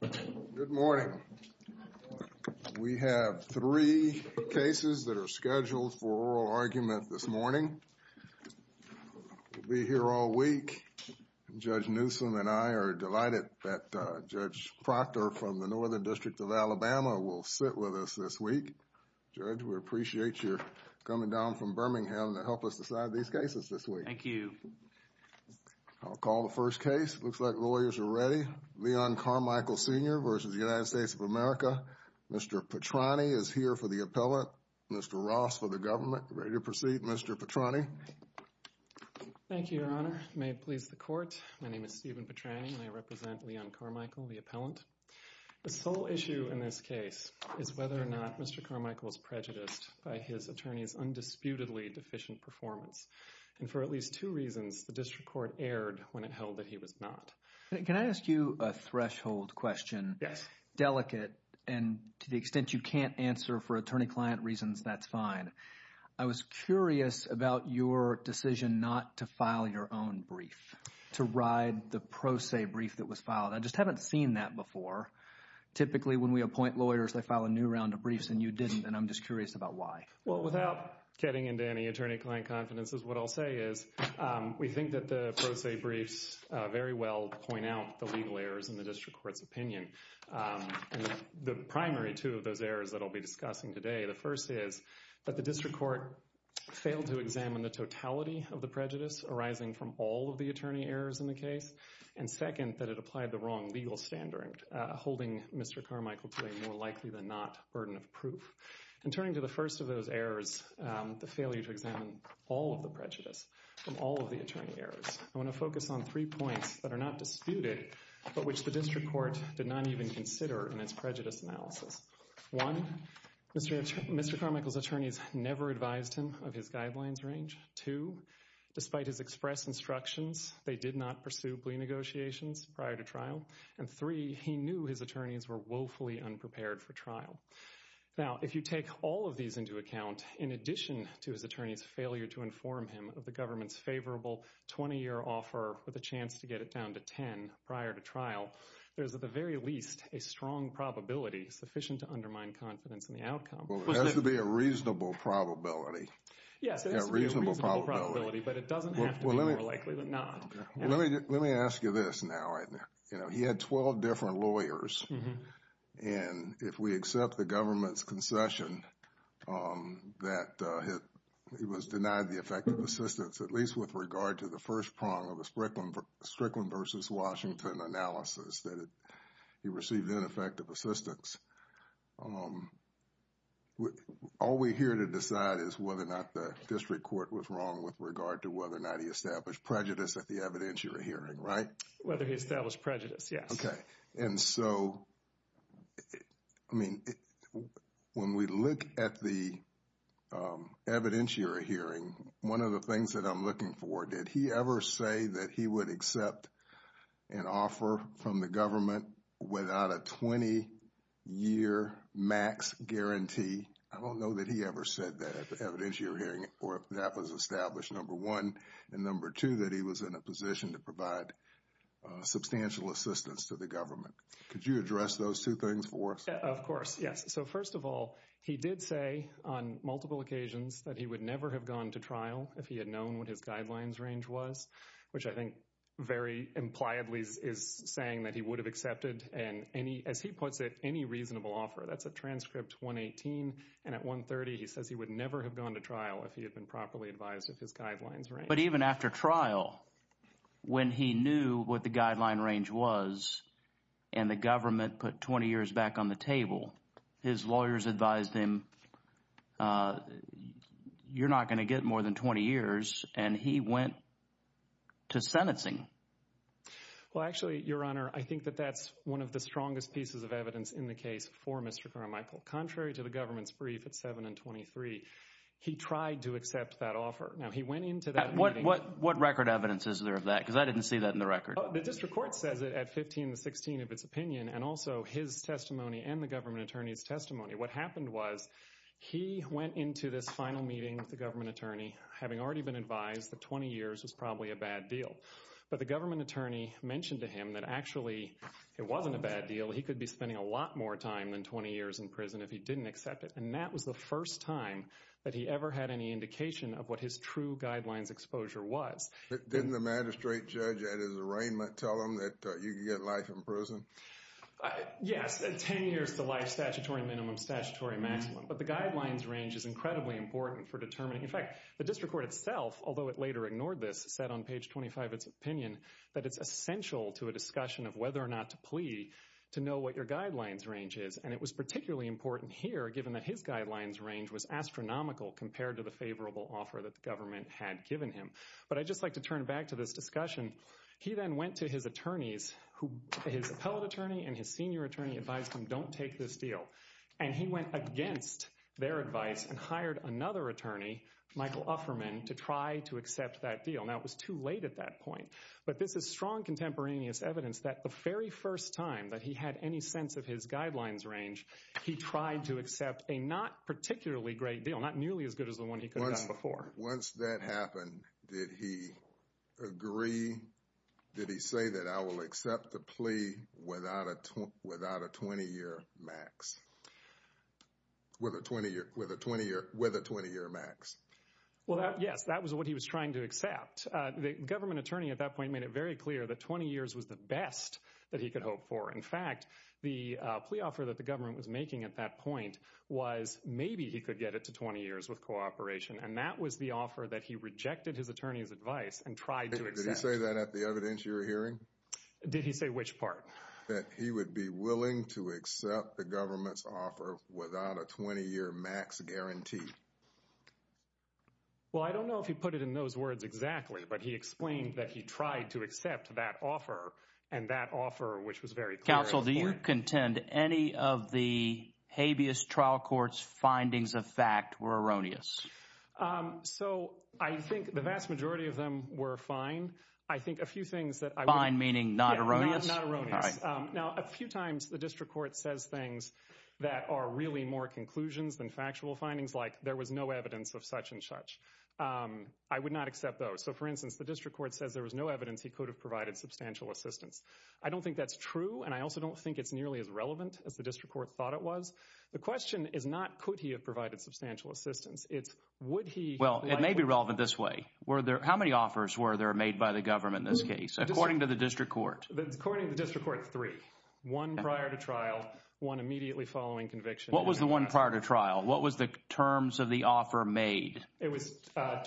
Good morning. We have three cases that are scheduled for oral argument this morning. We'll be here all week. Judge Newsom and I are delighted that Judge Proctor from the Northern District of Alabama will sit with us this week. Judge, we appreciate your coming down from Birmingham to help us decide these cases this week. Thank you. I'll call the first case. It looks like lawyers are ready. Leon Carmichael, Sr. v. United States of America. Mr. Petrani is here for the appellant. Mr. Ross for the government. Ready to proceed, Mr. Petrani. Thank you, Your Honor. May it please the Court. My name is Stephen Petrani and I represent Leon Carmichael, the appellant. The sole issue in this case is whether or not Mr. Carmichael is prejudiced by his attorney's reasons. The district court erred when it held that he was not. Can I ask you a threshold question? Yes. Delicate, and to the extent you can't answer for attorney-client reasons, that's fine. I was curious about your decision not to file your own brief, to ride the pro se brief that was filed. I just haven't seen that before. Typically when we appoint lawyers, they file a new round of briefs and you didn't, and I'm just curious about why. Well, without getting into any attorney-client confidences, what I'll say is we think that the pro se briefs very well point out the legal errors in the district court's opinion. The primary two of those errors that I'll be discussing today, the first is that the district court failed to examine the totality of the prejudice arising from all of the attorney errors in the case, and second, that it applied the wrong legal standard, holding Mr. Carmichael to a more likely than not burden of proof. And turning to the first of those errors, the failure to examine all of the prejudice from all of the attorney errors, I want to focus on three points that are not disputed, but which the district court did not even consider in its prejudice analysis. One, Mr. Carmichael's attorneys never advised him of his guidelines range. Two, despite his express instructions, they did not pursue plea negotiations prior to trial. And three, he knew his attorneys were woefully unprepared for trial. Now, if you take all of these into account, in addition to his attorney's failure to inform him of the government's favorable 20-year offer with a chance to get it down to 10 prior to trial, there's at the very least a strong probability sufficient to undermine confidence in the outcome. Well, there has to be a reasonable probability. Yes, there has to be a reasonable probability, but it doesn't have to be more likely than not. Let me ask you this now. You know, he had 12 different lawyers, and if we accept the government's concession that he was denied the effective assistance, at least with regard to the first prong of the Strickland versus Washington analysis, that he received ineffective assistance, all we're here to decide is whether or not the district court was wrong with regard to whether or not he established prejudice at the evidentiary hearing, right? Whether he established prejudice, yes. Okay. And so, I mean, when we look at the evidentiary hearing, one of the things that I'm looking for, did he ever say that he would accept an offer from the government without a 20-year max guarantee? I don't know that he ever said that at the evidentiary hearing where that was established, number one, and number two, that he was in a position to provide substantial assistance to the government. Could you address those two things for us? Of course, yes. So, first of all, he did say on multiple occasions that he would never have gone to trial if he had known what his guidelines range was, which I think very impliedly is saying that he would have accepted, as he puts it, any reasonable offer. That's at transcript 118, and at 130, he says he would never have gone to trial if he had been properly advised of his guidelines range. But even after trial, when he knew what the guideline range was, and the government put 20 years back on the table, his lawyers advised him, you're not going to get more than 20 years, and he went to sentencing. Well, actually, Your Honor, I think that that's one of the strongest pieces of evidence in the case for Mr. Carmichael. Contrary to the government's brief at 7 and 23, he tried to accept that offer. Now, he went into that meeting... What record evidence is there of that? Because I didn't see that in the record. The district court says it at 15 and 16 of its opinion, and also his testimony and the government attorney's testimony. What happened was he went into this final meeting with the government attorney, having already been advised that 20 years was probably a bad deal. But the government attorney mentioned to him that actually it wasn't a bad deal. He could be spending a lot more time than 20 years in prison if he didn't accept it. And that was the first time that he ever had any indication of what his true guidelines exposure was. Didn't the magistrate judge at his arraignment tell him that you could get life in prison? Yes, 10 years to life, statutory minimum, statutory maximum. But the guidelines range is incredibly important for determining... In fact, the district court itself, although it later ignored this, said on page 25 of its opinion that it's essential to a discussion of whether or not to plea to know what your guidelines range is. And it was particularly important here, given that his guidelines range was astronomical compared to the favorable offer that the government had given him. But I'd just like to turn back to this discussion. He then went to his attorneys who... His appellate attorney and his senior attorney advised him, don't take this deal. And he went against their advice and hired another attorney, Michael Ufferman, to try to accept that deal. Now, it was too late at that point. But this is strong contemporaneous evidence that the very first time that he had any sense of his guidelines range, he tried to accept a not particularly great deal, not nearly as good as the one he could have gotten before. Once that happened, did he agree? Did he say that I will accept the plea without a 20-year max? With a 20-year max? Well, yes, that was what he was trying to accept. The government attorney at that point made it very clear that 20 years was the best that he could hope for. In fact, the plea offer that the government was making at that point was maybe he could get it to 20 years with cooperation. And that was the offer that he rejected his attorney's advice and tried to accept. Did he say that at the evidence you were hearing? Did he say which part? That he would be willing to accept the government's offer without a 20-year max guarantee. Well, I don't know if he put it in those words exactly, but he explained that he tried to accept that offer and that offer, which was very clear at the point. Counsel, do you contend any of the habeas trial court's findings of fact were erroneous? So, I think the vast majority of them were fine. I think a few things that... Fine meaning not erroneous? Not erroneous. All right. Now, a few times the district court says things that are really more conclusions than factual findings like there was no evidence of such and such. I would not accept those. So, for instance, the district court says there was no evidence he could have provided substantial assistance. I don't think that's true, and I also don't think it's nearly as relevant as the district court thought it was. The question is not could he have provided substantial assistance. It's would he... Well, it may be relevant this way. How many offers were there made by the government in this case, according to the district court? According to the district court, three. One prior to trial, one immediately following conviction. What was the one prior to trial? What was the terms of the offer made? It was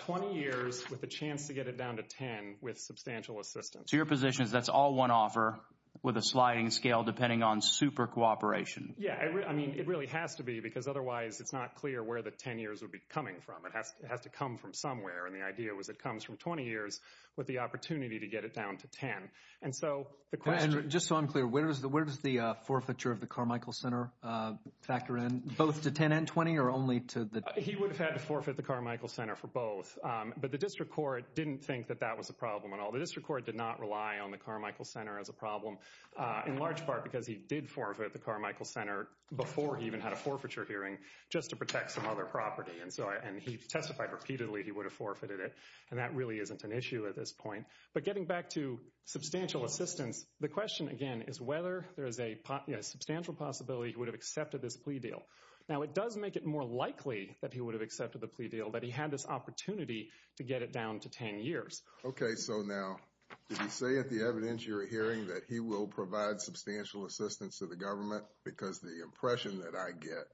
20 years with a chance to get it down to 10 with substantial assistance. So, your position is that's all one offer with a sliding scale depending on super cooperation? Yeah. I mean, it really has to be because otherwise it's not clear where the 10 years would be coming from. It has to come from somewhere, and the idea was it comes from 20 years with the opportunity to get it down to 10. And so, the question... And just so I'm clear, where does the forfeiture of the Carmichael Center factor in, both to 10 and 20 or only to the... He would have had to forfeit the Carmichael Center for both. But the district court didn't think that that was a problem at all. The district court did not rely on the Carmichael Center as a problem, in large part because he did forfeit the Carmichael Center before he even had a forfeiture hearing just to protect some other property. And he testified repeatedly he would have forfeited it, and that really isn't an issue at this point. But getting back to substantial assistance, the question, again, is whether there is a substantial possibility he would have accepted this plea deal. Now, it does make it more likely that he would have accepted the plea deal, that he had this opportunity to get it down to 10 years. Okay, so now, did he say at the evidentiary hearing that he will provide substantial assistance to the government? Because the impression that I get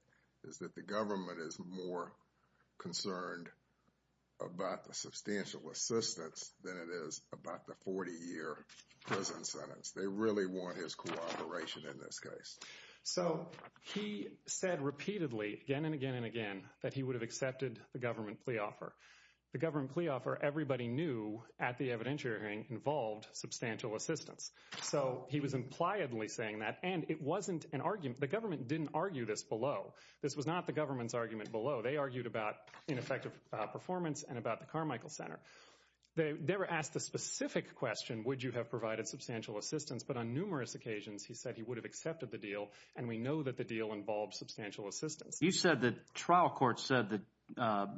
is that the government is more concerned about the substantial assistance than it is about the 40-year prison sentence. They really want his cooperation in this case. So, he said repeatedly, again and again and again, that he would have accepted the government plea offer. The government plea offer, everybody knew at the evidentiary hearing, involved substantial assistance. So, he was impliedly saying that, and it wasn't an argument. The government didn't argue this below. This was not the government's argument below. They argued about ineffective performance and about the Carmichael Center. They were asked the specific question, would you have provided substantial assistance? But on numerous occasions, he said he would have accepted the deal, and we know that the deal involves substantial assistance. You said the trial court said that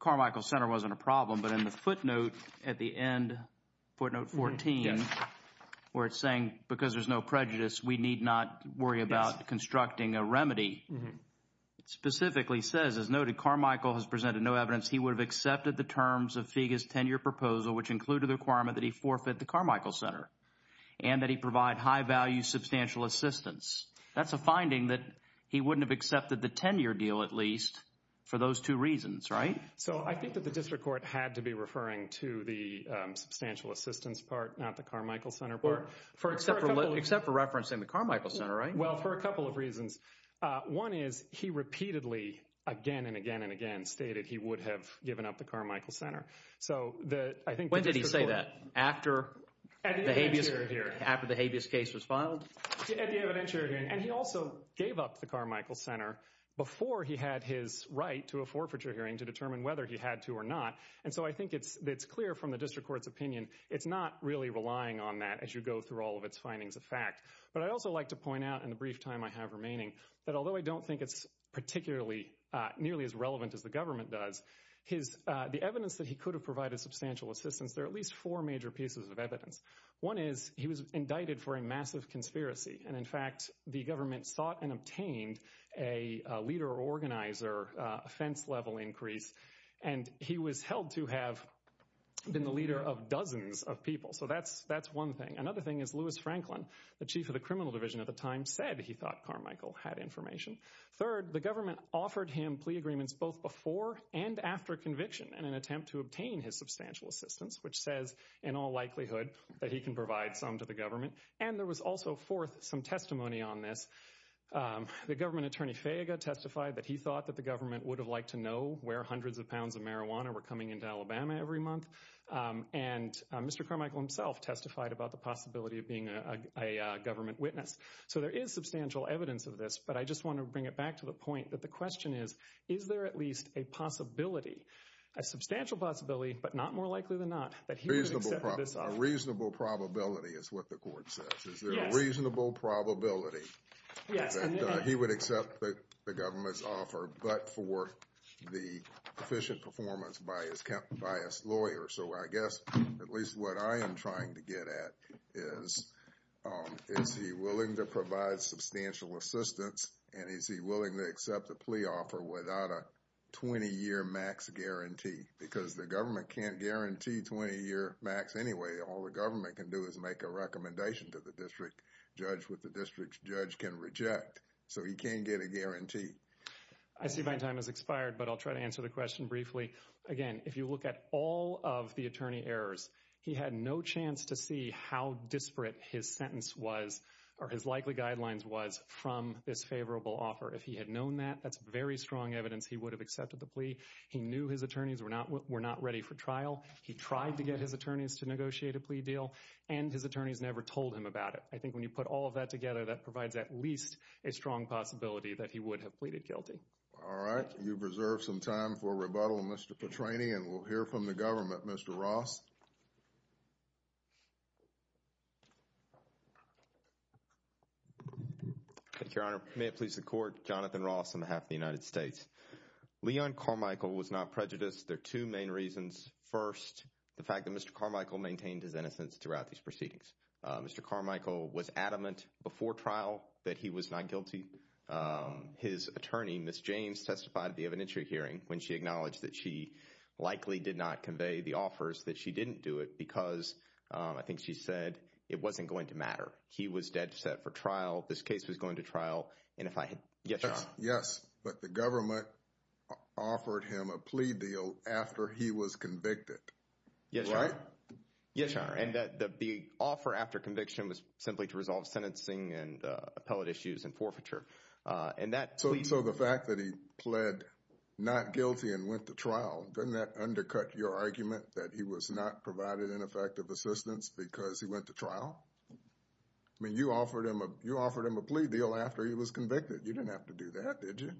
Carmichael Center wasn't a problem, but in the footnote at the end, footnote 14, where it's saying, because there's no prejudice, we need not worry about constructing a remedy. It specifically says, as noted, Carmichael has presented no evidence he would have accepted the terms of FIGA's 10-year proposal, which included the requirement that he provide high-value substantial assistance. That's a finding that he wouldn't have accepted the 10-year deal, at least, for those two reasons, right? So, I think that the district court had to be referring to the substantial assistance part, not the Carmichael Center part. Except for referencing the Carmichael Center, right? Well, for a couple of reasons. One is, he repeatedly, again and again and again, stated he would have given up the Carmichael Center. When did he say that? After the habeas case was filed? At the evidentiary hearing. And he also gave up the Carmichael Center before he had his right to a forfeiture hearing to determine whether he had to or not. And so, I think it's clear from the district court's opinion, it's not really relying on that as you go through all of its findings of fact. But I'd also like to point out, in the brief time I have remaining, that although I don't think it's particularly, nearly as relevant as the government does, the evidence that he could have provided substantial assistance, there are at least four major pieces of evidence. One is, he was indicted for a massive conspiracy. And in fact, the government sought and obtained a leader organizer offense level increase. And he was held to have been the leader of dozens of people. So, that's one thing. Another thing is, Louis Franklin, the chief of the criminal division at the time, said he thought Carmichael had information. Third, the government offered him plea agreements both before and after conviction in an attempt to obtain his substantial assistance, which says, in all likelihood, that he can provide some to the government. And there was also, fourth, some testimony on this. The government attorney, Fayega, testified that he thought that the government would have liked to know where hundreds of pounds of marijuana were coming into Alabama every month. And Mr. Carmichael himself testified about the possibility of being a government witness. So, there is substantial evidence of this. But I just want to bring it back to the point that the question is, is there at least a possibility, a substantial possibility, but not more likely than not, that he would accept this offer? A reasonable probability is what the court says. Is there a reasonable probability that he would accept the government's offer but for the efficient performance by his lawyer? So, I guess, at least what I am trying to get at is, is he willing to provide substantial assistance and is he willing to accept a plea offer without a 20-year max guarantee? Because the government can't guarantee 20-year max anyway. All the government can do is make a recommendation to the district judge what the district judge can reject. So, he can't get a guarantee. I see my time has expired, but I'll try to answer the question briefly. Again, if you look at all of the attorney errors, he had no chance to see how disparate his sentence was or his likely guidelines was from this favorable offer. If he had known that, that's very strong evidence he would have accepted the plea. He knew his attorneys were not ready for trial. He tried to get his attorneys to negotiate a plea deal, and his attorneys never told him about it. I think when you put all of that together, that provides at least a strong possibility that he would have pleaded guilty. All right. You've reserved some time for rebuttal, Mr. Petrani, and we'll hear from the government. Mr. Ross. Your Honor, may it please the Court, Jonathan Ross on behalf of the United States. Leon Carmichael was not prejudiced. There are two main reasons. First, the fact that Mr. Carmichael maintained his innocence throughout these proceedings. Mr. Carmichael was adamant before trial that he was not guilty. His attorney, Ms. James, testified at the evidentiary hearing when she acknowledged that she likely did not convey the offers, that she didn't do it because, I think she said, it wasn't going to matter. He was dead set for trial. This case was going to trial. Yes, Your Honor. Yes, but the government offered him a plea deal after he was convicted. Yes, Your Honor. Right? Yes, Your Honor. And the offer after conviction was simply to resolve sentencing and appellate issues and forfeiture. So, the fact that he pled not guilty and went to trial, doesn't that undercut your argument that he was not provided ineffective assistance because he went to trial? I mean, you offered him a plea deal after he was convicted. You didn't have to do that, did you?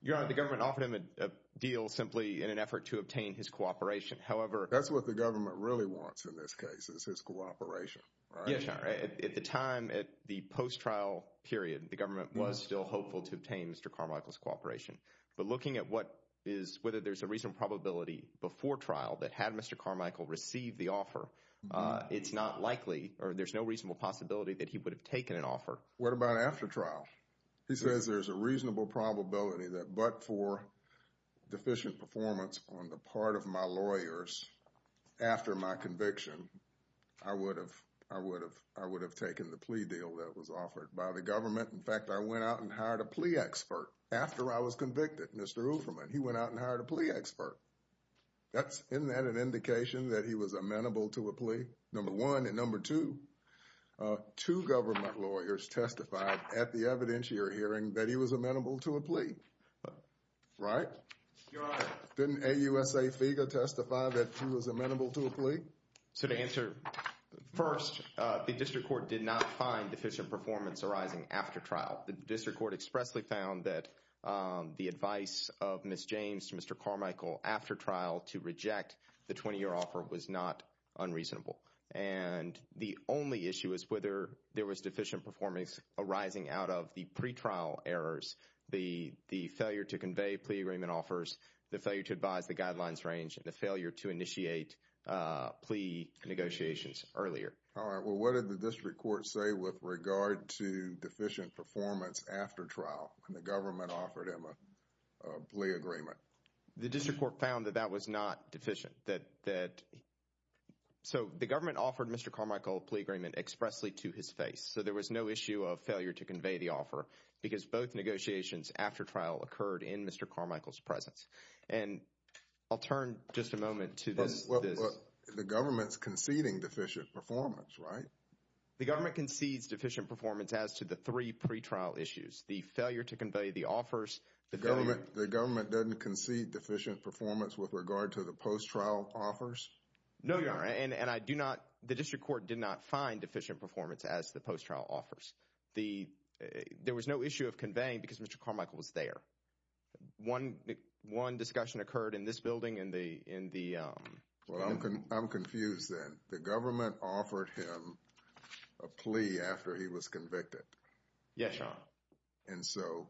Your Honor, the government offered him a deal simply in an effort to obtain his cooperation. However… That's what the government really wants in this case, is his cooperation. Yes, Your Honor. At the time, at the post-trial period, the government was still hopeful to obtain Mr. Carmichael's cooperation. But looking at what is, whether there's a reasonable probability before trial that had Mr. Carmichael receive the offer, it's not likely, or there's no reasonable possibility that he would have taken an offer. What about after trial? He says there's a reasonable probability that but for deficient performance on the part of my lawyers after my conviction, I would have taken the plea deal that was offered by the government. In fact, I went out and hired a plea expert after I was convicted, Mr. Uferman. He went out and hired a plea expert. Isn't that an indication that he was amenable to a plea? Number one. And number two, two government lawyers testified at the evidentiary hearing that he was amenable to a plea. Right? Your Honor. Didn't AUSA FIGA testify that he was amenable to a plea? So to answer first, the district court did not find deficient performance arising after trial. The district court expressly found that the advice of Ms. James to Mr. Carmichael after trial to reject the 20-year offer was not unreasonable. And the only issue is whether there was deficient performance arising out of the pretrial errors, the failure to convey plea agreement offers, the failure to advise the guidelines range, and the failure to initiate plea negotiations earlier. All right. Well, what did the district court say with regard to deficient performance after trial when the government offered him a plea agreement? The district court found that that was not deficient. So the government offered Mr. Carmichael a plea agreement expressly to his face. So there was no issue of failure to convey the offer because both negotiations after trial occurred in Mr. Carmichael's presence. And I'll turn just a moment to this. The government's conceding deficient performance, right? The government concedes deficient performance as to the three pretrial issues, the failure to convey the offers, the failure— The government doesn't concede deficient performance with regard to the post-trial offers? No, Your Honor. And I do not—the district court did not find deficient performance as to the post-trial offers. There was no issue of conveying because Mr. Carmichael was there. One discussion occurred in this building in the— Well, I'm confused then. The government offered him a plea after he was convicted. Yes, Your Honor. And so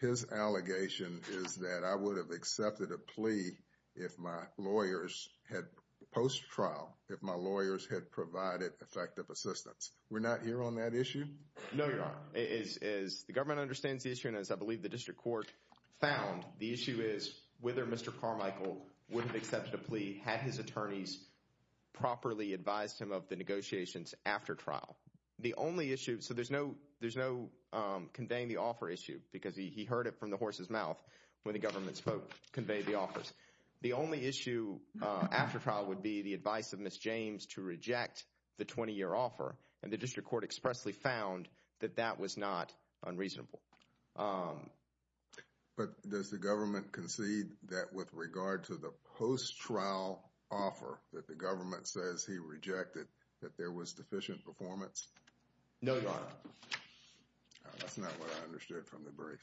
his allegation is that I would have accepted a plea if my lawyers had—post-trial, if my lawyers had provided effective assistance. We're not here on that issue? No, Your Honor. As the government understands the issue and as I believe the district court found, the issue is whether Mr. Carmichael would have accepted a plea had his attorneys properly advised him of the negotiations after trial. The only issue—so there's no conveying the offer issue because he heard it from the horse's mouth when the government spoke—conveyed the offers. The only issue after trial would be the advice of Ms. James to reject the 20-year offer, and the district court expressly found that that was not unreasonable. But does the government concede that with regard to the post-trial offer that the government says he rejected, that there was deficient performance? No, Your Honor. That's not what I understood from the brief.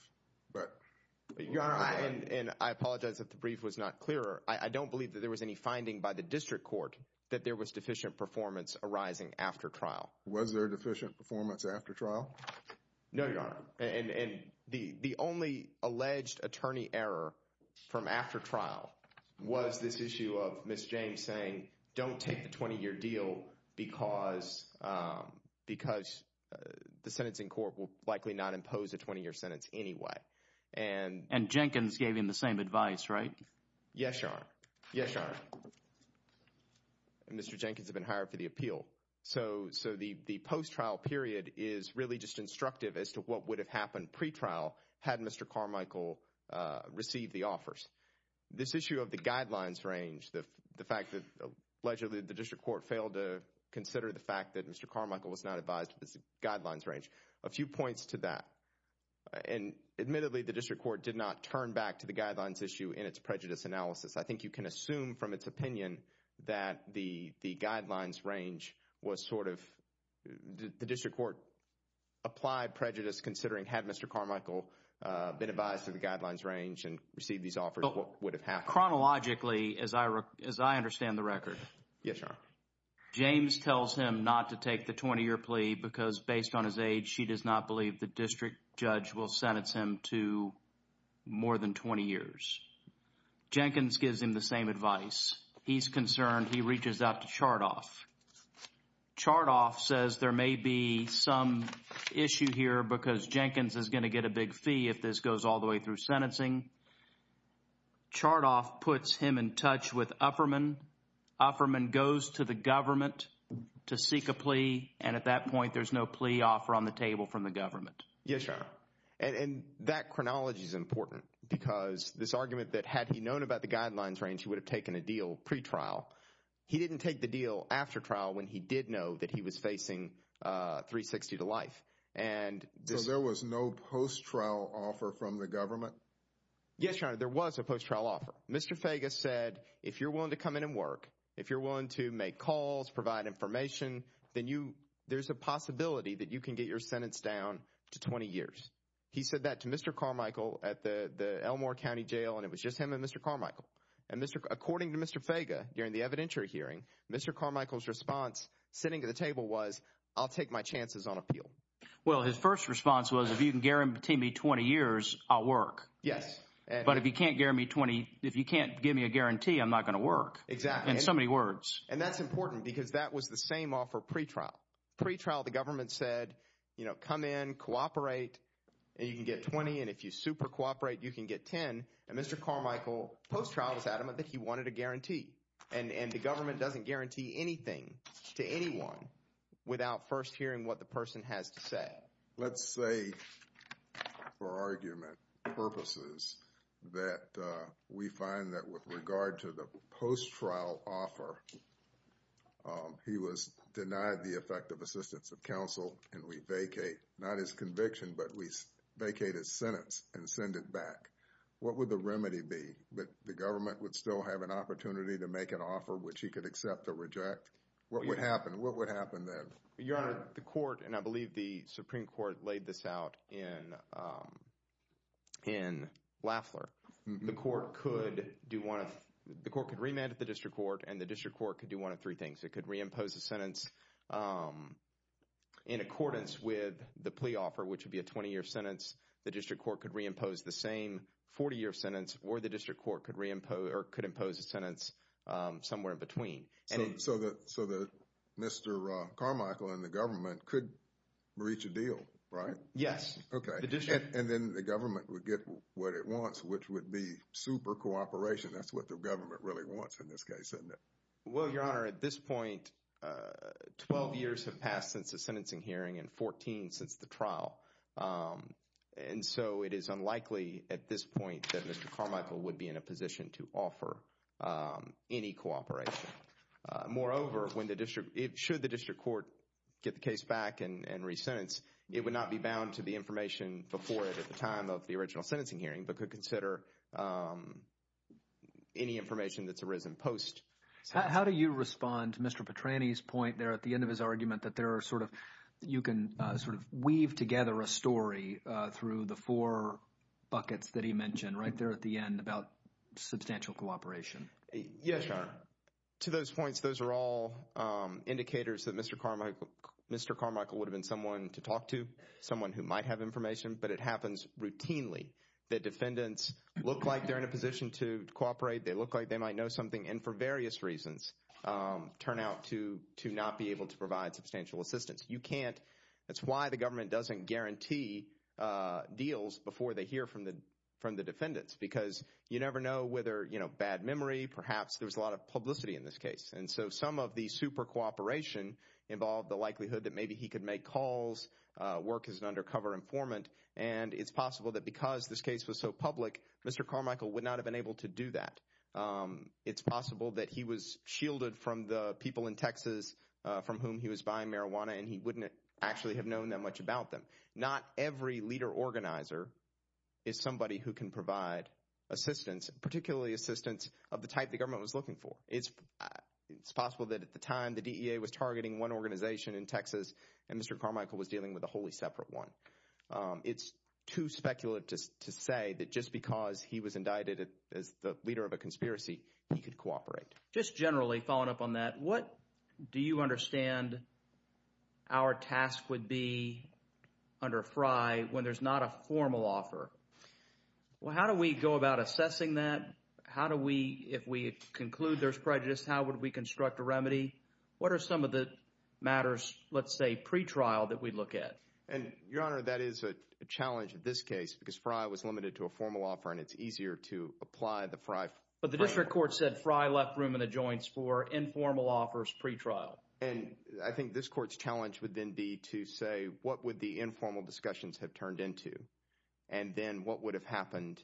Your Honor, and I apologize if the brief was not clearer, I don't believe that there was any finding by the district court that there was deficient performance arising after trial. Was there deficient performance after trial? No, Your Honor. And the only alleged attorney error from after trial was this issue of Ms. James saying, don't take the 20-year deal because the sentencing court will likely not impose a 20-year sentence anyway. And Jenkins gave him the same advice, right? Yes, Your Honor. Yes, Your Honor. Mr. Jenkins had been hired for the appeal. So the post-trial period is really just instructive as to what would have happened pre-trial had Mr. Carmichael received the offers. This issue of the guidelines range, the fact that allegedly the district court failed to consider the fact that Mr. Carmichael was not advised of the guidelines range, a few points to that. And admittedly, the district court did not turn back to the guidelines issue in its prejudice analysis. I think you can assume from its opinion that the guidelines range was sort of, the district court applied prejudice considering had Mr. Carmichael been advised of the guidelines range and received these offers, what would have happened. Chronologically, as I understand the record, Yes, Your Honor. James tells him not to take the 20-year plea because based on his age, she does not believe the district judge will sentence him to more than 20 years. Jenkins gives him the same advice. He's concerned. He reaches out to Chardoff. Chardoff says there may be some issue here because Jenkins is going to get a big fee if this goes all the way through sentencing. Chardoff puts him in touch with Ufferman. Ufferman goes to the government to seek a plea. And at that point, there's no plea offer on the table from the government. Yes, Your Honor. And that chronology is important because this argument that had he known about the guidelines range, he would have taken a deal pre-trial. He didn't take the deal after trial when he did know that he was facing 360 to life. So there was no post-trial offer from the government? Yes, Your Honor. There was a post-trial offer. Mr. Fega said if you're willing to come in and work, if you're willing to make calls, provide information, then there's a possibility that you can get your sentence down to 20 years. He said that to Mr. Carmichael at the Elmore County Jail, and it was just him and Mr. Carmichael. And according to Mr. Fega, during the evidentiary hearing, Mr. Carmichael's response sitting at the table was, I'll take my chances on appeal. Well, his first response was if you can guarantee me 20 years, I'll work. Yes. But if you can't guarantee me 20, if you can't give me a guarantee, I'm not going to work. Exactly. In so many words. And that's important because that was the same offer pre-trial. Pre-trial, the government said, you know, come in, cooperate, and you can get 20, and if you super cooperate, you can get 10. And Mr. Carmichael post-trial was adamant that he wanted a guarantee. And the government doesn't guarantee anything to anyone without first hearing what the person has to say. Let's say for argument purposes that we find that with regard to the post-trial offer, he was denied the effective assistance of counsel, and we vacate not his conviction, but we vacate his sentence and send it back. What would the remedy be? That the government would still have an opportunity to make an offer which he could accept or reject? What would happen? What would happen then? Your Honor, the court, and I believe the Supreme Court laid this out in Lafler, the court could do one of, the court could remand at the district court, and the district court could do one of three things. It could reimpose a sentence in accordance with the plea offer, which would be a 20-year sentence. The district court could reimpose the same 40-year sentence, or the district court could reimpose or could impose a sentence somewhere in between. So Mr. Carmichael and the government could reach a deal, right? Yes. Okay. And then the government would get what it wants, which would be super cooperation. That's what the government really wants in this case, isn't it? Well, Your Honor, at this point, 12 years have passed since the sentencing hearing and 14 since the trial. And so it is unlikely at this point that Mr. Carmichael would be in a position to offer any cooperation. Moreover, should the district court get the case back and resentence, it would not be bound to the information before it at the time of the original sentencing hearing but could consider any information that's arisen post. How do you respond to Mr. Petrani's point there at the end of his argument that there are sort of, you can sort of weave together a story through the four buckets that he mentioned right there at the end about substantial cooperation? Yes, Your Honor. To those points, those are all indicators that Mr. Carmichael would have been someone to talk to, someone who might have information. But it happens routinely that defendants look like they're in a position to cooperate. They look like they might know something and for various reasons turn out to not be able to provide substantial assistance. You can't. That's why the government doesn't guarantee deals before they hear from the defendants because you never know whether, you know, bad memory, perhaps there's a lot of publicity in this case. And so some of the super cooperation involved the likelihood that maybe he could make calls, work as an undercover informant, and it's possible that because this case was so public, Mr. Carmichael would not have been able to do that. It's possible that he was shielded from the people in Texas from whom he was buying marijuana and he wouldn't actually have known that much about them. Not every leader organizer is somebody who can provide assistance, particularly assistance of the type the government was looking for. It's possible that at the time the DEA was targeting one organization in Texas and Mr. Carmichael was dealing with a wholly separate one. It's too speculative to say that just because he was indicted as the leader of a conspiracy, he could cooperate. Just generally following up on that, what do you understand our task would be under Frye when there's not a formal offer? Well, how do we go about assessing that? How do we, if we conclude there's prejudice, how would we construct a remedy? What are some of the matters, let's say pretrial, that we'd look at? And, Your Honor, that is a challenge in this case because Frye was limited to a formal offer and it's easier to apply the Frye frame. But the district court said Frye left room in the joints for informal offers pretrial. And I think this court's challenge would then be to say what would the informal discussions have turned into and then what would have happened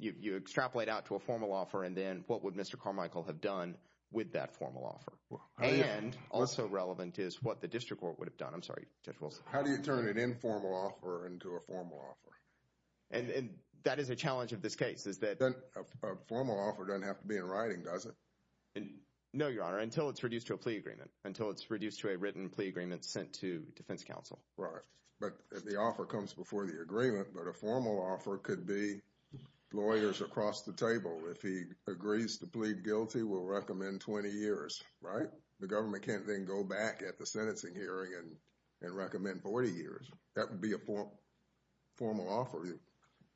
if you extrapolate out to a formal offer and then what would Mr. Carmichael have done with that formal offer? And also relevant is what the district court would have done. I'm sorry, Judge Wilson. How do you turn an informal offer into a formal offer? And that is a challenge of this case is that... A formal offer doesn't have to be in writing, does it? No, Your Honor, until it's reduced to a plea agreement, until it's reduced to a written plea agreement sent to defense counsel. Right. But the offer comes before the agreement. But a formal offer could be lawyers across the table. If he agrees to plead guilty, we'll recommend 20 years, right? The government can't then go back at the sentencing hearing and recommend 40 years. That would be a formal offer.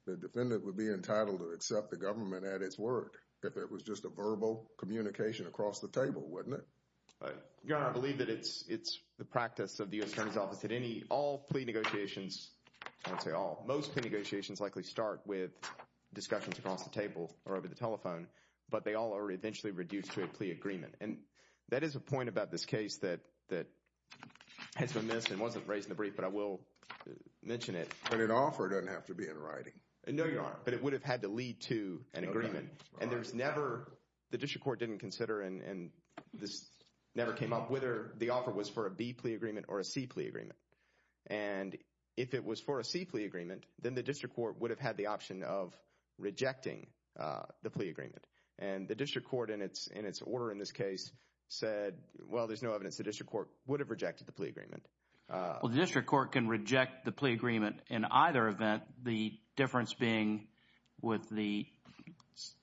The defendant would be entitled to accept the government at its word if it was just a verbal communication across the table, wouldn't it? Your Honor, I believe that it's the practice of the attorney's office that any, all plea negotiations, I wouldn't say all, most plea negotiations likely start with discussions across the table or over the telephone, but they all are eventually reduced to a plea agreement. And that is a point about this case that has been missed and wasn't raised in the brief, but I will mention it. But an offer doesn't have to be in writing. No, Your Honor, but it would have had to lead to an agreement. And there's never, the district court didn't consider, and this never came up, whether the offer was for a B plea agreement or a C plea agreement. And if it was for a C plea agreement, then the district court would have had the option of rejecting the plea agreement. And the district court in its order in this case said, well, there's no evidence the district court would have rejected the plea agreement. Well, the district court can reject the plea agreement in either event, the difference being with the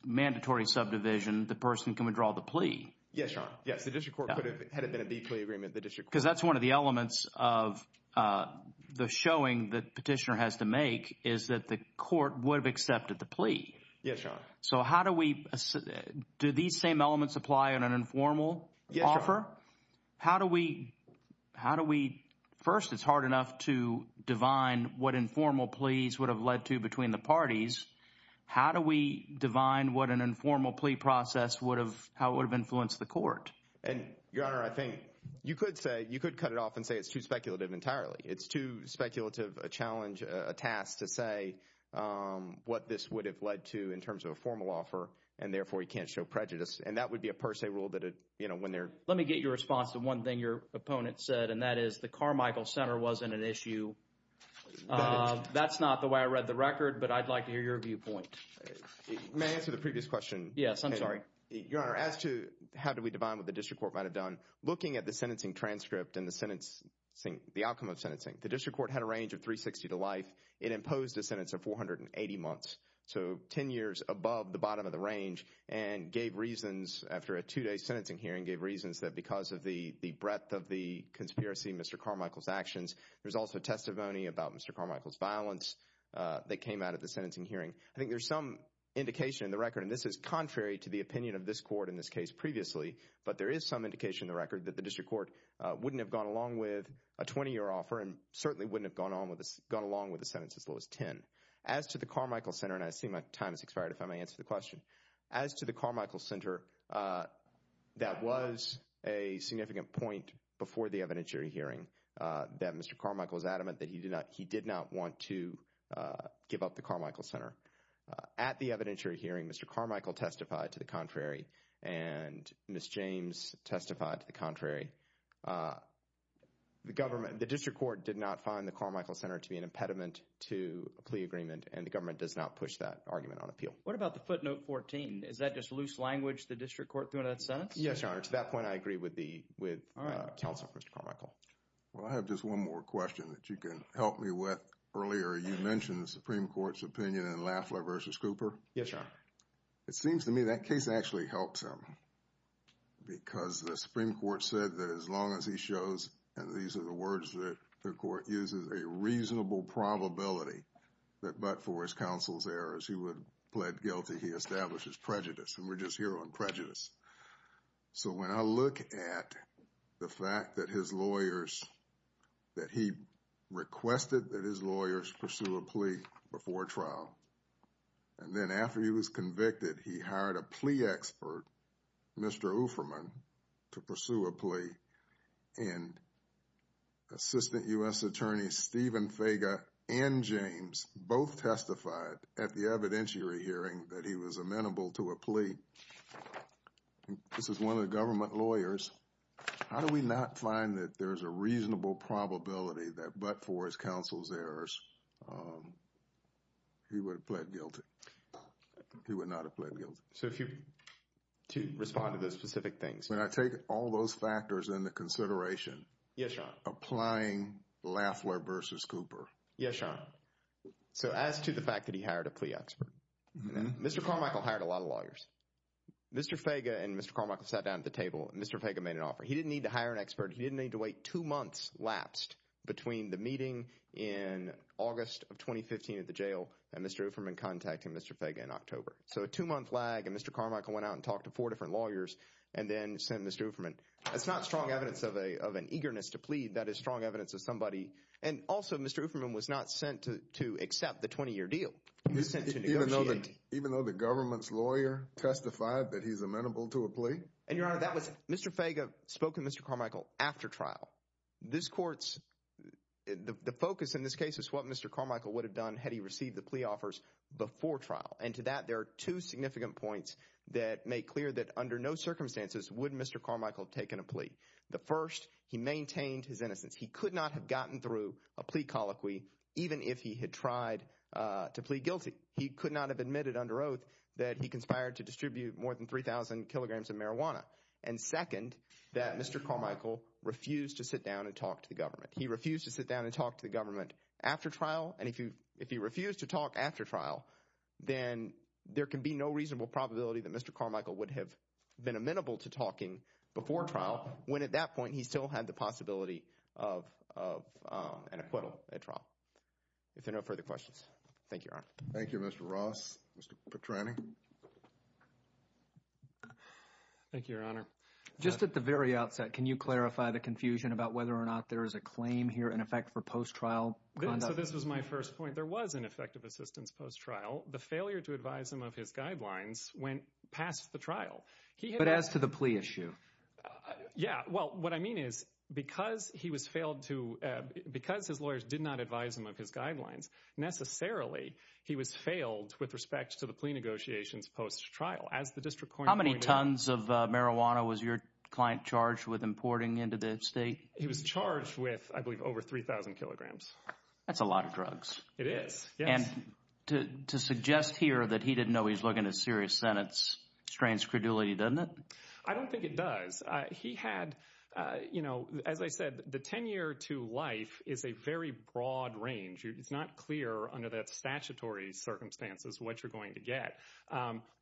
mandatory subdivision, the person can withdraw the plea. Yes, Your Honor, yes, the district court could have, had it been a B plea agreement, the district court could have. Because that's one of the elements of the showing that petitioner has to make is that the court would have accepted the plea. Yes, Your Honor. So how do we, do these same elements apply in an informal offer? Yes, Your Honor. How do we, how do we, first it's hard enough to divine what informal pleas would have led to between the parties. How do we divine what an informal plea process would have, how it would have influenced the court? And, Your Honor, I think you could say, you could cut it off and say it's too speculative entirely. It's too speculative a challenge, a task to say what this would have led to in terms of a formal offer, and therefore you can't show prejudice. And that would be a per se rule that, you know, when they're. Let me get your response to one thing your opponent said, and that is the Carmichael Center wasn't an issue. That's not the way I read the record, but I'd like to hear your viewpoint. May I answer the previous question? Yes, I'm sorry. Your Honor, as to how do we divine what the district court might have done, looking at the sentencing transcript and the sentence, the outcome of sentencing, the district court had a range of 360 to life. It imposed a sentence of 480 months, so 10 years above the bottom of the range and gave reasons after a two-day sentencing hearing, gave reasons that because of the breadth of the conspiracy in Mr. Carmichael's actions, there's also testimony about Mr. Carmichael's violence that came out of the sentencing hearing. I think there's some indication in the record, and this is contrary to the opinion of this court in this case previously, but there is some indication in the record that the district court wouldn't have gone along with a 20-year offer and certainly wouldn't have gone along with a sentence as low as 10. As to the Carmichael Center, and I see my time has expired, if I may answer the question. As to the Carmichael Center, that was a significant point before the evidentiary hearing, that Mr. Carmichael is adamant that he did not want to give up the Carmichael Center. At the evidentiary hearing, Mr. Carmichael testified to the contrary, and Ms. James testified to the contrary. The district court did not find the Carmichael Center to be an impediment to a plea agreement, and the government does not push that argument on appeal. What about the footnote 14? Is that just loose language the district court threw in that sentence? Yes, Your Honor. To that point, I agree with the counsel, Mr. Carmichael. Well, I have just one more question that you can help me with. Earlier, you mentioned the Supreme Court's opinion in Lafler v. Cooper. Yes, Your Honor. It seems to me that case actually helps him because the Supreme Court said that as long as he shows, and these are the words that the court uses, a reasonable probability that but for his counsel's errors, he would plead guilty, he establishes prejudice, and we're just here on prejudice. So when I look at the fact that his lawyers, that he requested that his lawyers pursue a plea before trial, and then after he was convicted, he hired a plea expert, Mr. Ufferman, to pursue a plea, and Assistant U.S. Attorney Stephen Fager and James both testified at the evidentiary hearing that he was amenable to a plea. This is one of the government lawyers. How do we not find that there's a reasonable probability that but for his counsel's errors, he would have pled guilty? He would not have pled guilty. So if you, to respond to those specific things. When I take all those factors into consideration. Yes, Your Honor. Applying Lafler v. Cooper. Yes, Your Honor. So as to the fact that he hired a plea expert, Mr. Carmichael hired a lot of lawyers. Mr. Fager and Mr. Carmichael sat down at the table and Mr. Fager made an offer. He didn't need to hire an expert. He didn't need to wait two months lapsed between the meeting in August of 2015 at the jail and Mr. Ufferman contacting Mr. Fager in October. So a two-month lag and Mr. Carmichael went out and talked to four different lawyers and then sent Mr. Ufferman. It's not strong evidence of an eagerness to plead. That is strong evidence of somebody. And also Mr. Ufferman was not sent to accept the 20-year deal. He was sent to negotiate. Even though the government's lawyer testified that he's amenable to a plea? And Your Honor, that was Mr. Fager spoke to Mr. Carmichael after trial. This court's, the focus in this case is what Mr. Carmichael would have done had he received the plea offers before trial. And to that there are two significant points that make clear that under no circumstances would Mr. Carmichael have taken a plea. The first, he maintained his innocence. He could not have gotten through a plea colloquy even if he had tried to plead guilty. He could not have admitted under oath that he conspired to distribute more than 3,000 kilograms of marijuana. And second, that Mr. Carmichael refused to sit down and talk to the government. He refused to sit down and talk to the government after trial. And if he refused to talk after trial, then there can be no reasonable probability that Mr. Carmichael would have been amenable to talking before trial when at that point he still had the possibility of an acquittal at trial. If there are no further questions, thank you, Your Honor. Thank you, Mr. Ross. Mr. Petrani? Thank you, Your Honor. Just at the very outset, can you clarify the confusion about whether or not there is a claim here in effect for post-trial conduct? So this was my first point. There was an effect of assistance post-trial. The failure to advise him of his guidelines went past the trial. But as to the plea issue? Yeah. Well, what I mean is because he was failed to – because his lawyers did not advise him of his guidelines, necessarily he was failed with respect to the plea negotiations post-trial. How many tons of marijuana was your client charged with importing into the state? He was charged with, I believe, over 3,000 kilograms. That's a lot of drugs. It is. Yes. And to suggest here that he didn't know he was looking to serious sentence strains credulity, doesn't it? I don't think it does. He had – as I said, the 10-year to life is a very broad range. It's not clear under the statutory circumstances what you're going to get.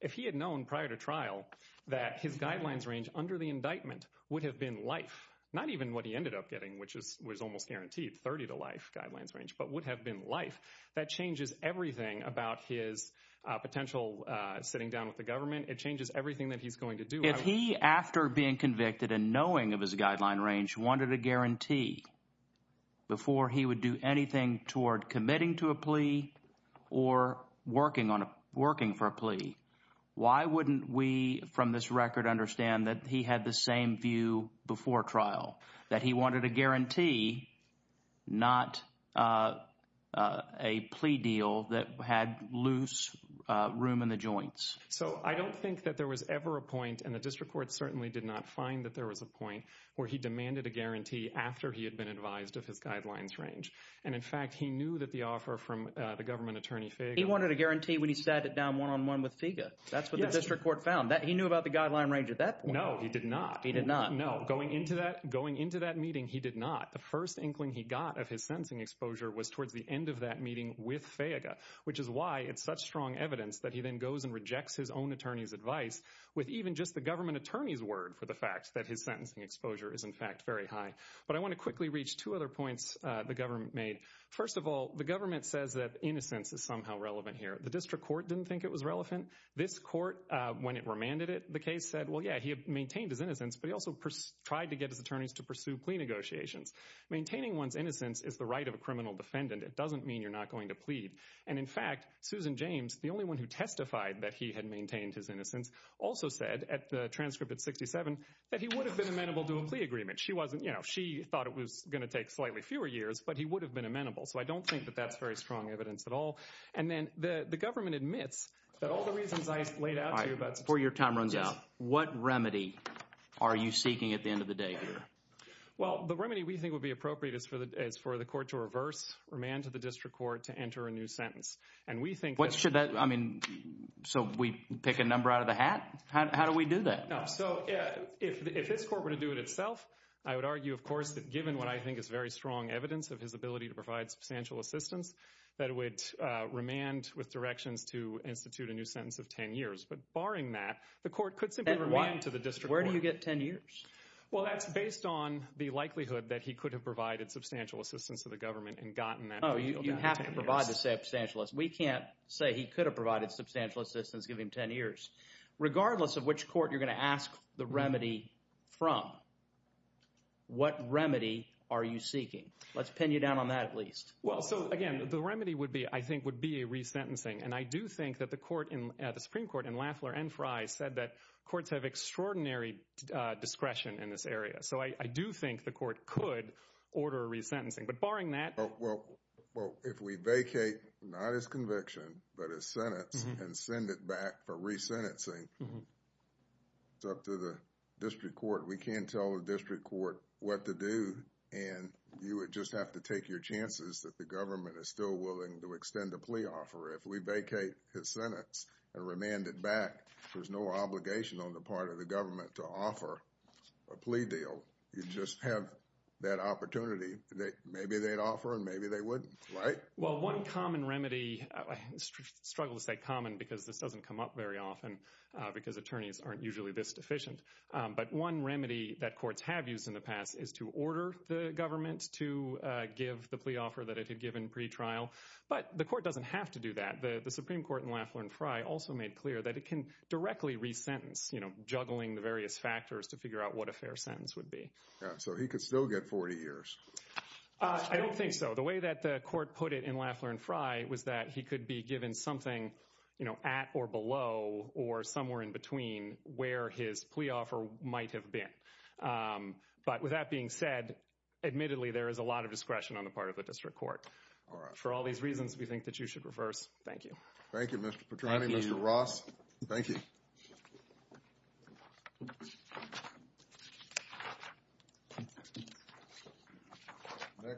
If he had known prior to trial that his guidelines range under the indictment would have been life, not even what he ended up getting, which was almost guaranteed, 30 to life guidelines range, but would have been life, that changes everything about his potential sitting down with the government. It changes everything that he's going to do. If he, after being convicted and knowing of his guideline range, wanted a guarantee before he would do anything toward committing to a plea or working for a plea, why wouldn't we, from this record, understand that he had the same view before trial? That he wanted a guarantee, not a plea deal that had loose room in the joints. So I don't think that there was ever a point, and the district court certainly did not find that there was a point, where he demanded a guarantee after he had been advised of his guidelines range. And, in fact, he knew that the offer from the government attorney, Fayega… He wanted a guarantee when he sat it down one-on-one with Fayega. Yes. That's what the district court found. He knew about the guideline range at that point. No, he did not. He did not. No. Going into that meeting, he did not. The first inkling he got of his sentencing exposure was towards the end of that meeting with Fayega, which is why it's such strong evidence that he then goes and rejects his own attorney's advice with even just the government attorney's word for the fact that his sentencing exposure is, in fact, very high. But I want to quickly reach two other points the government made. First of all, the government says that innocence is somehow relevant here. The district court didn't think it was relevant. This court, when it remanded it, the case said, well, yeah, he had maintained his innocence, but he also tried to get his attorneys to pursue plea negotiations. Maintaining one's innocence is the right of a criminal defendant. It doesn't mean you're not going to plead. And, in fact, Susan James, the only one who testified that he had maintained his innocence, also said at the transcript at 67 that he would have been amenable to a plea agreement. She thought it was going to take slightly fewer years, but he would have been amenable. So I don't think that that's very strong evidence at all. And then the government admits that all the reasons I laid out to you about support your time runs out. What remedy are you seeking at the end of the day here? Well, the remedy we think would be appropriate is for the court to reverse remand to the district court to enter a new sentence. And we think what should that I mean. So we pick a number out of the hat. How do we do that? So if this court were to do it itself, I would argue, of course, that given what I think is very strong evidence of his ability to provide substantial assistance, that it would remand with directions to institute a new sentence of 10 years. But barring that, the court could simply remand to the district court. Where do you get 10 years? Well, that's based on the likelihood that he could have provided substantial assistance to the government and gotten that. Oh, you have to provide the substantial assistance. We can't say he could have provided substantial assistance, give him 10 years. Regardless of which court you're going to ask the remedy from, what remedy are you seeking? Let's pin you down on that at least. Well, so again, the remedy would be, I think, would be a resentencing. And I do think that the Supreme Court in Lafler and Frye said that courts have extraordinary discretion in this area. So I do think the court could order a resentencing. Well, if we vacate not his conviction but his sentence and send it back for resentencing, it's up to the district court. We can't tell the district court what to do. And you would just have to take your chances that the government is still willing to extend a plea offer. If we vacate his sentence and remand it back, there's no obligation on the part of the government to offer a plea deal. You just have that opportunity that maybe they'd offer and maybe they wouldn't, right? Well, one common remedy, I struggle to say common because this doesn't come up very often because attorneys aren't usually this deficient. But one remedy that courts have used in the past is to order the government to give the plea offer that it had given pretrial. But the court doesn't have to do that. The Supreme Court in Lafler and Frye also made clear that it can directly resentence, you know, juggling the various factors to figure out what a fair sentence would be. So he could still get 40 years. I don't think so. The way that the court put it in Lafler and Frye was that he could be given something, you know, at or below or somewhere in between where his plea offer might have been. But with that being said, admittedly, there is a lot of discretion on the part of the district court. For all these reasons, we think that you should reverse. Thank you. Thank you, Mr. Petrani, Mr. Ross. Thank you.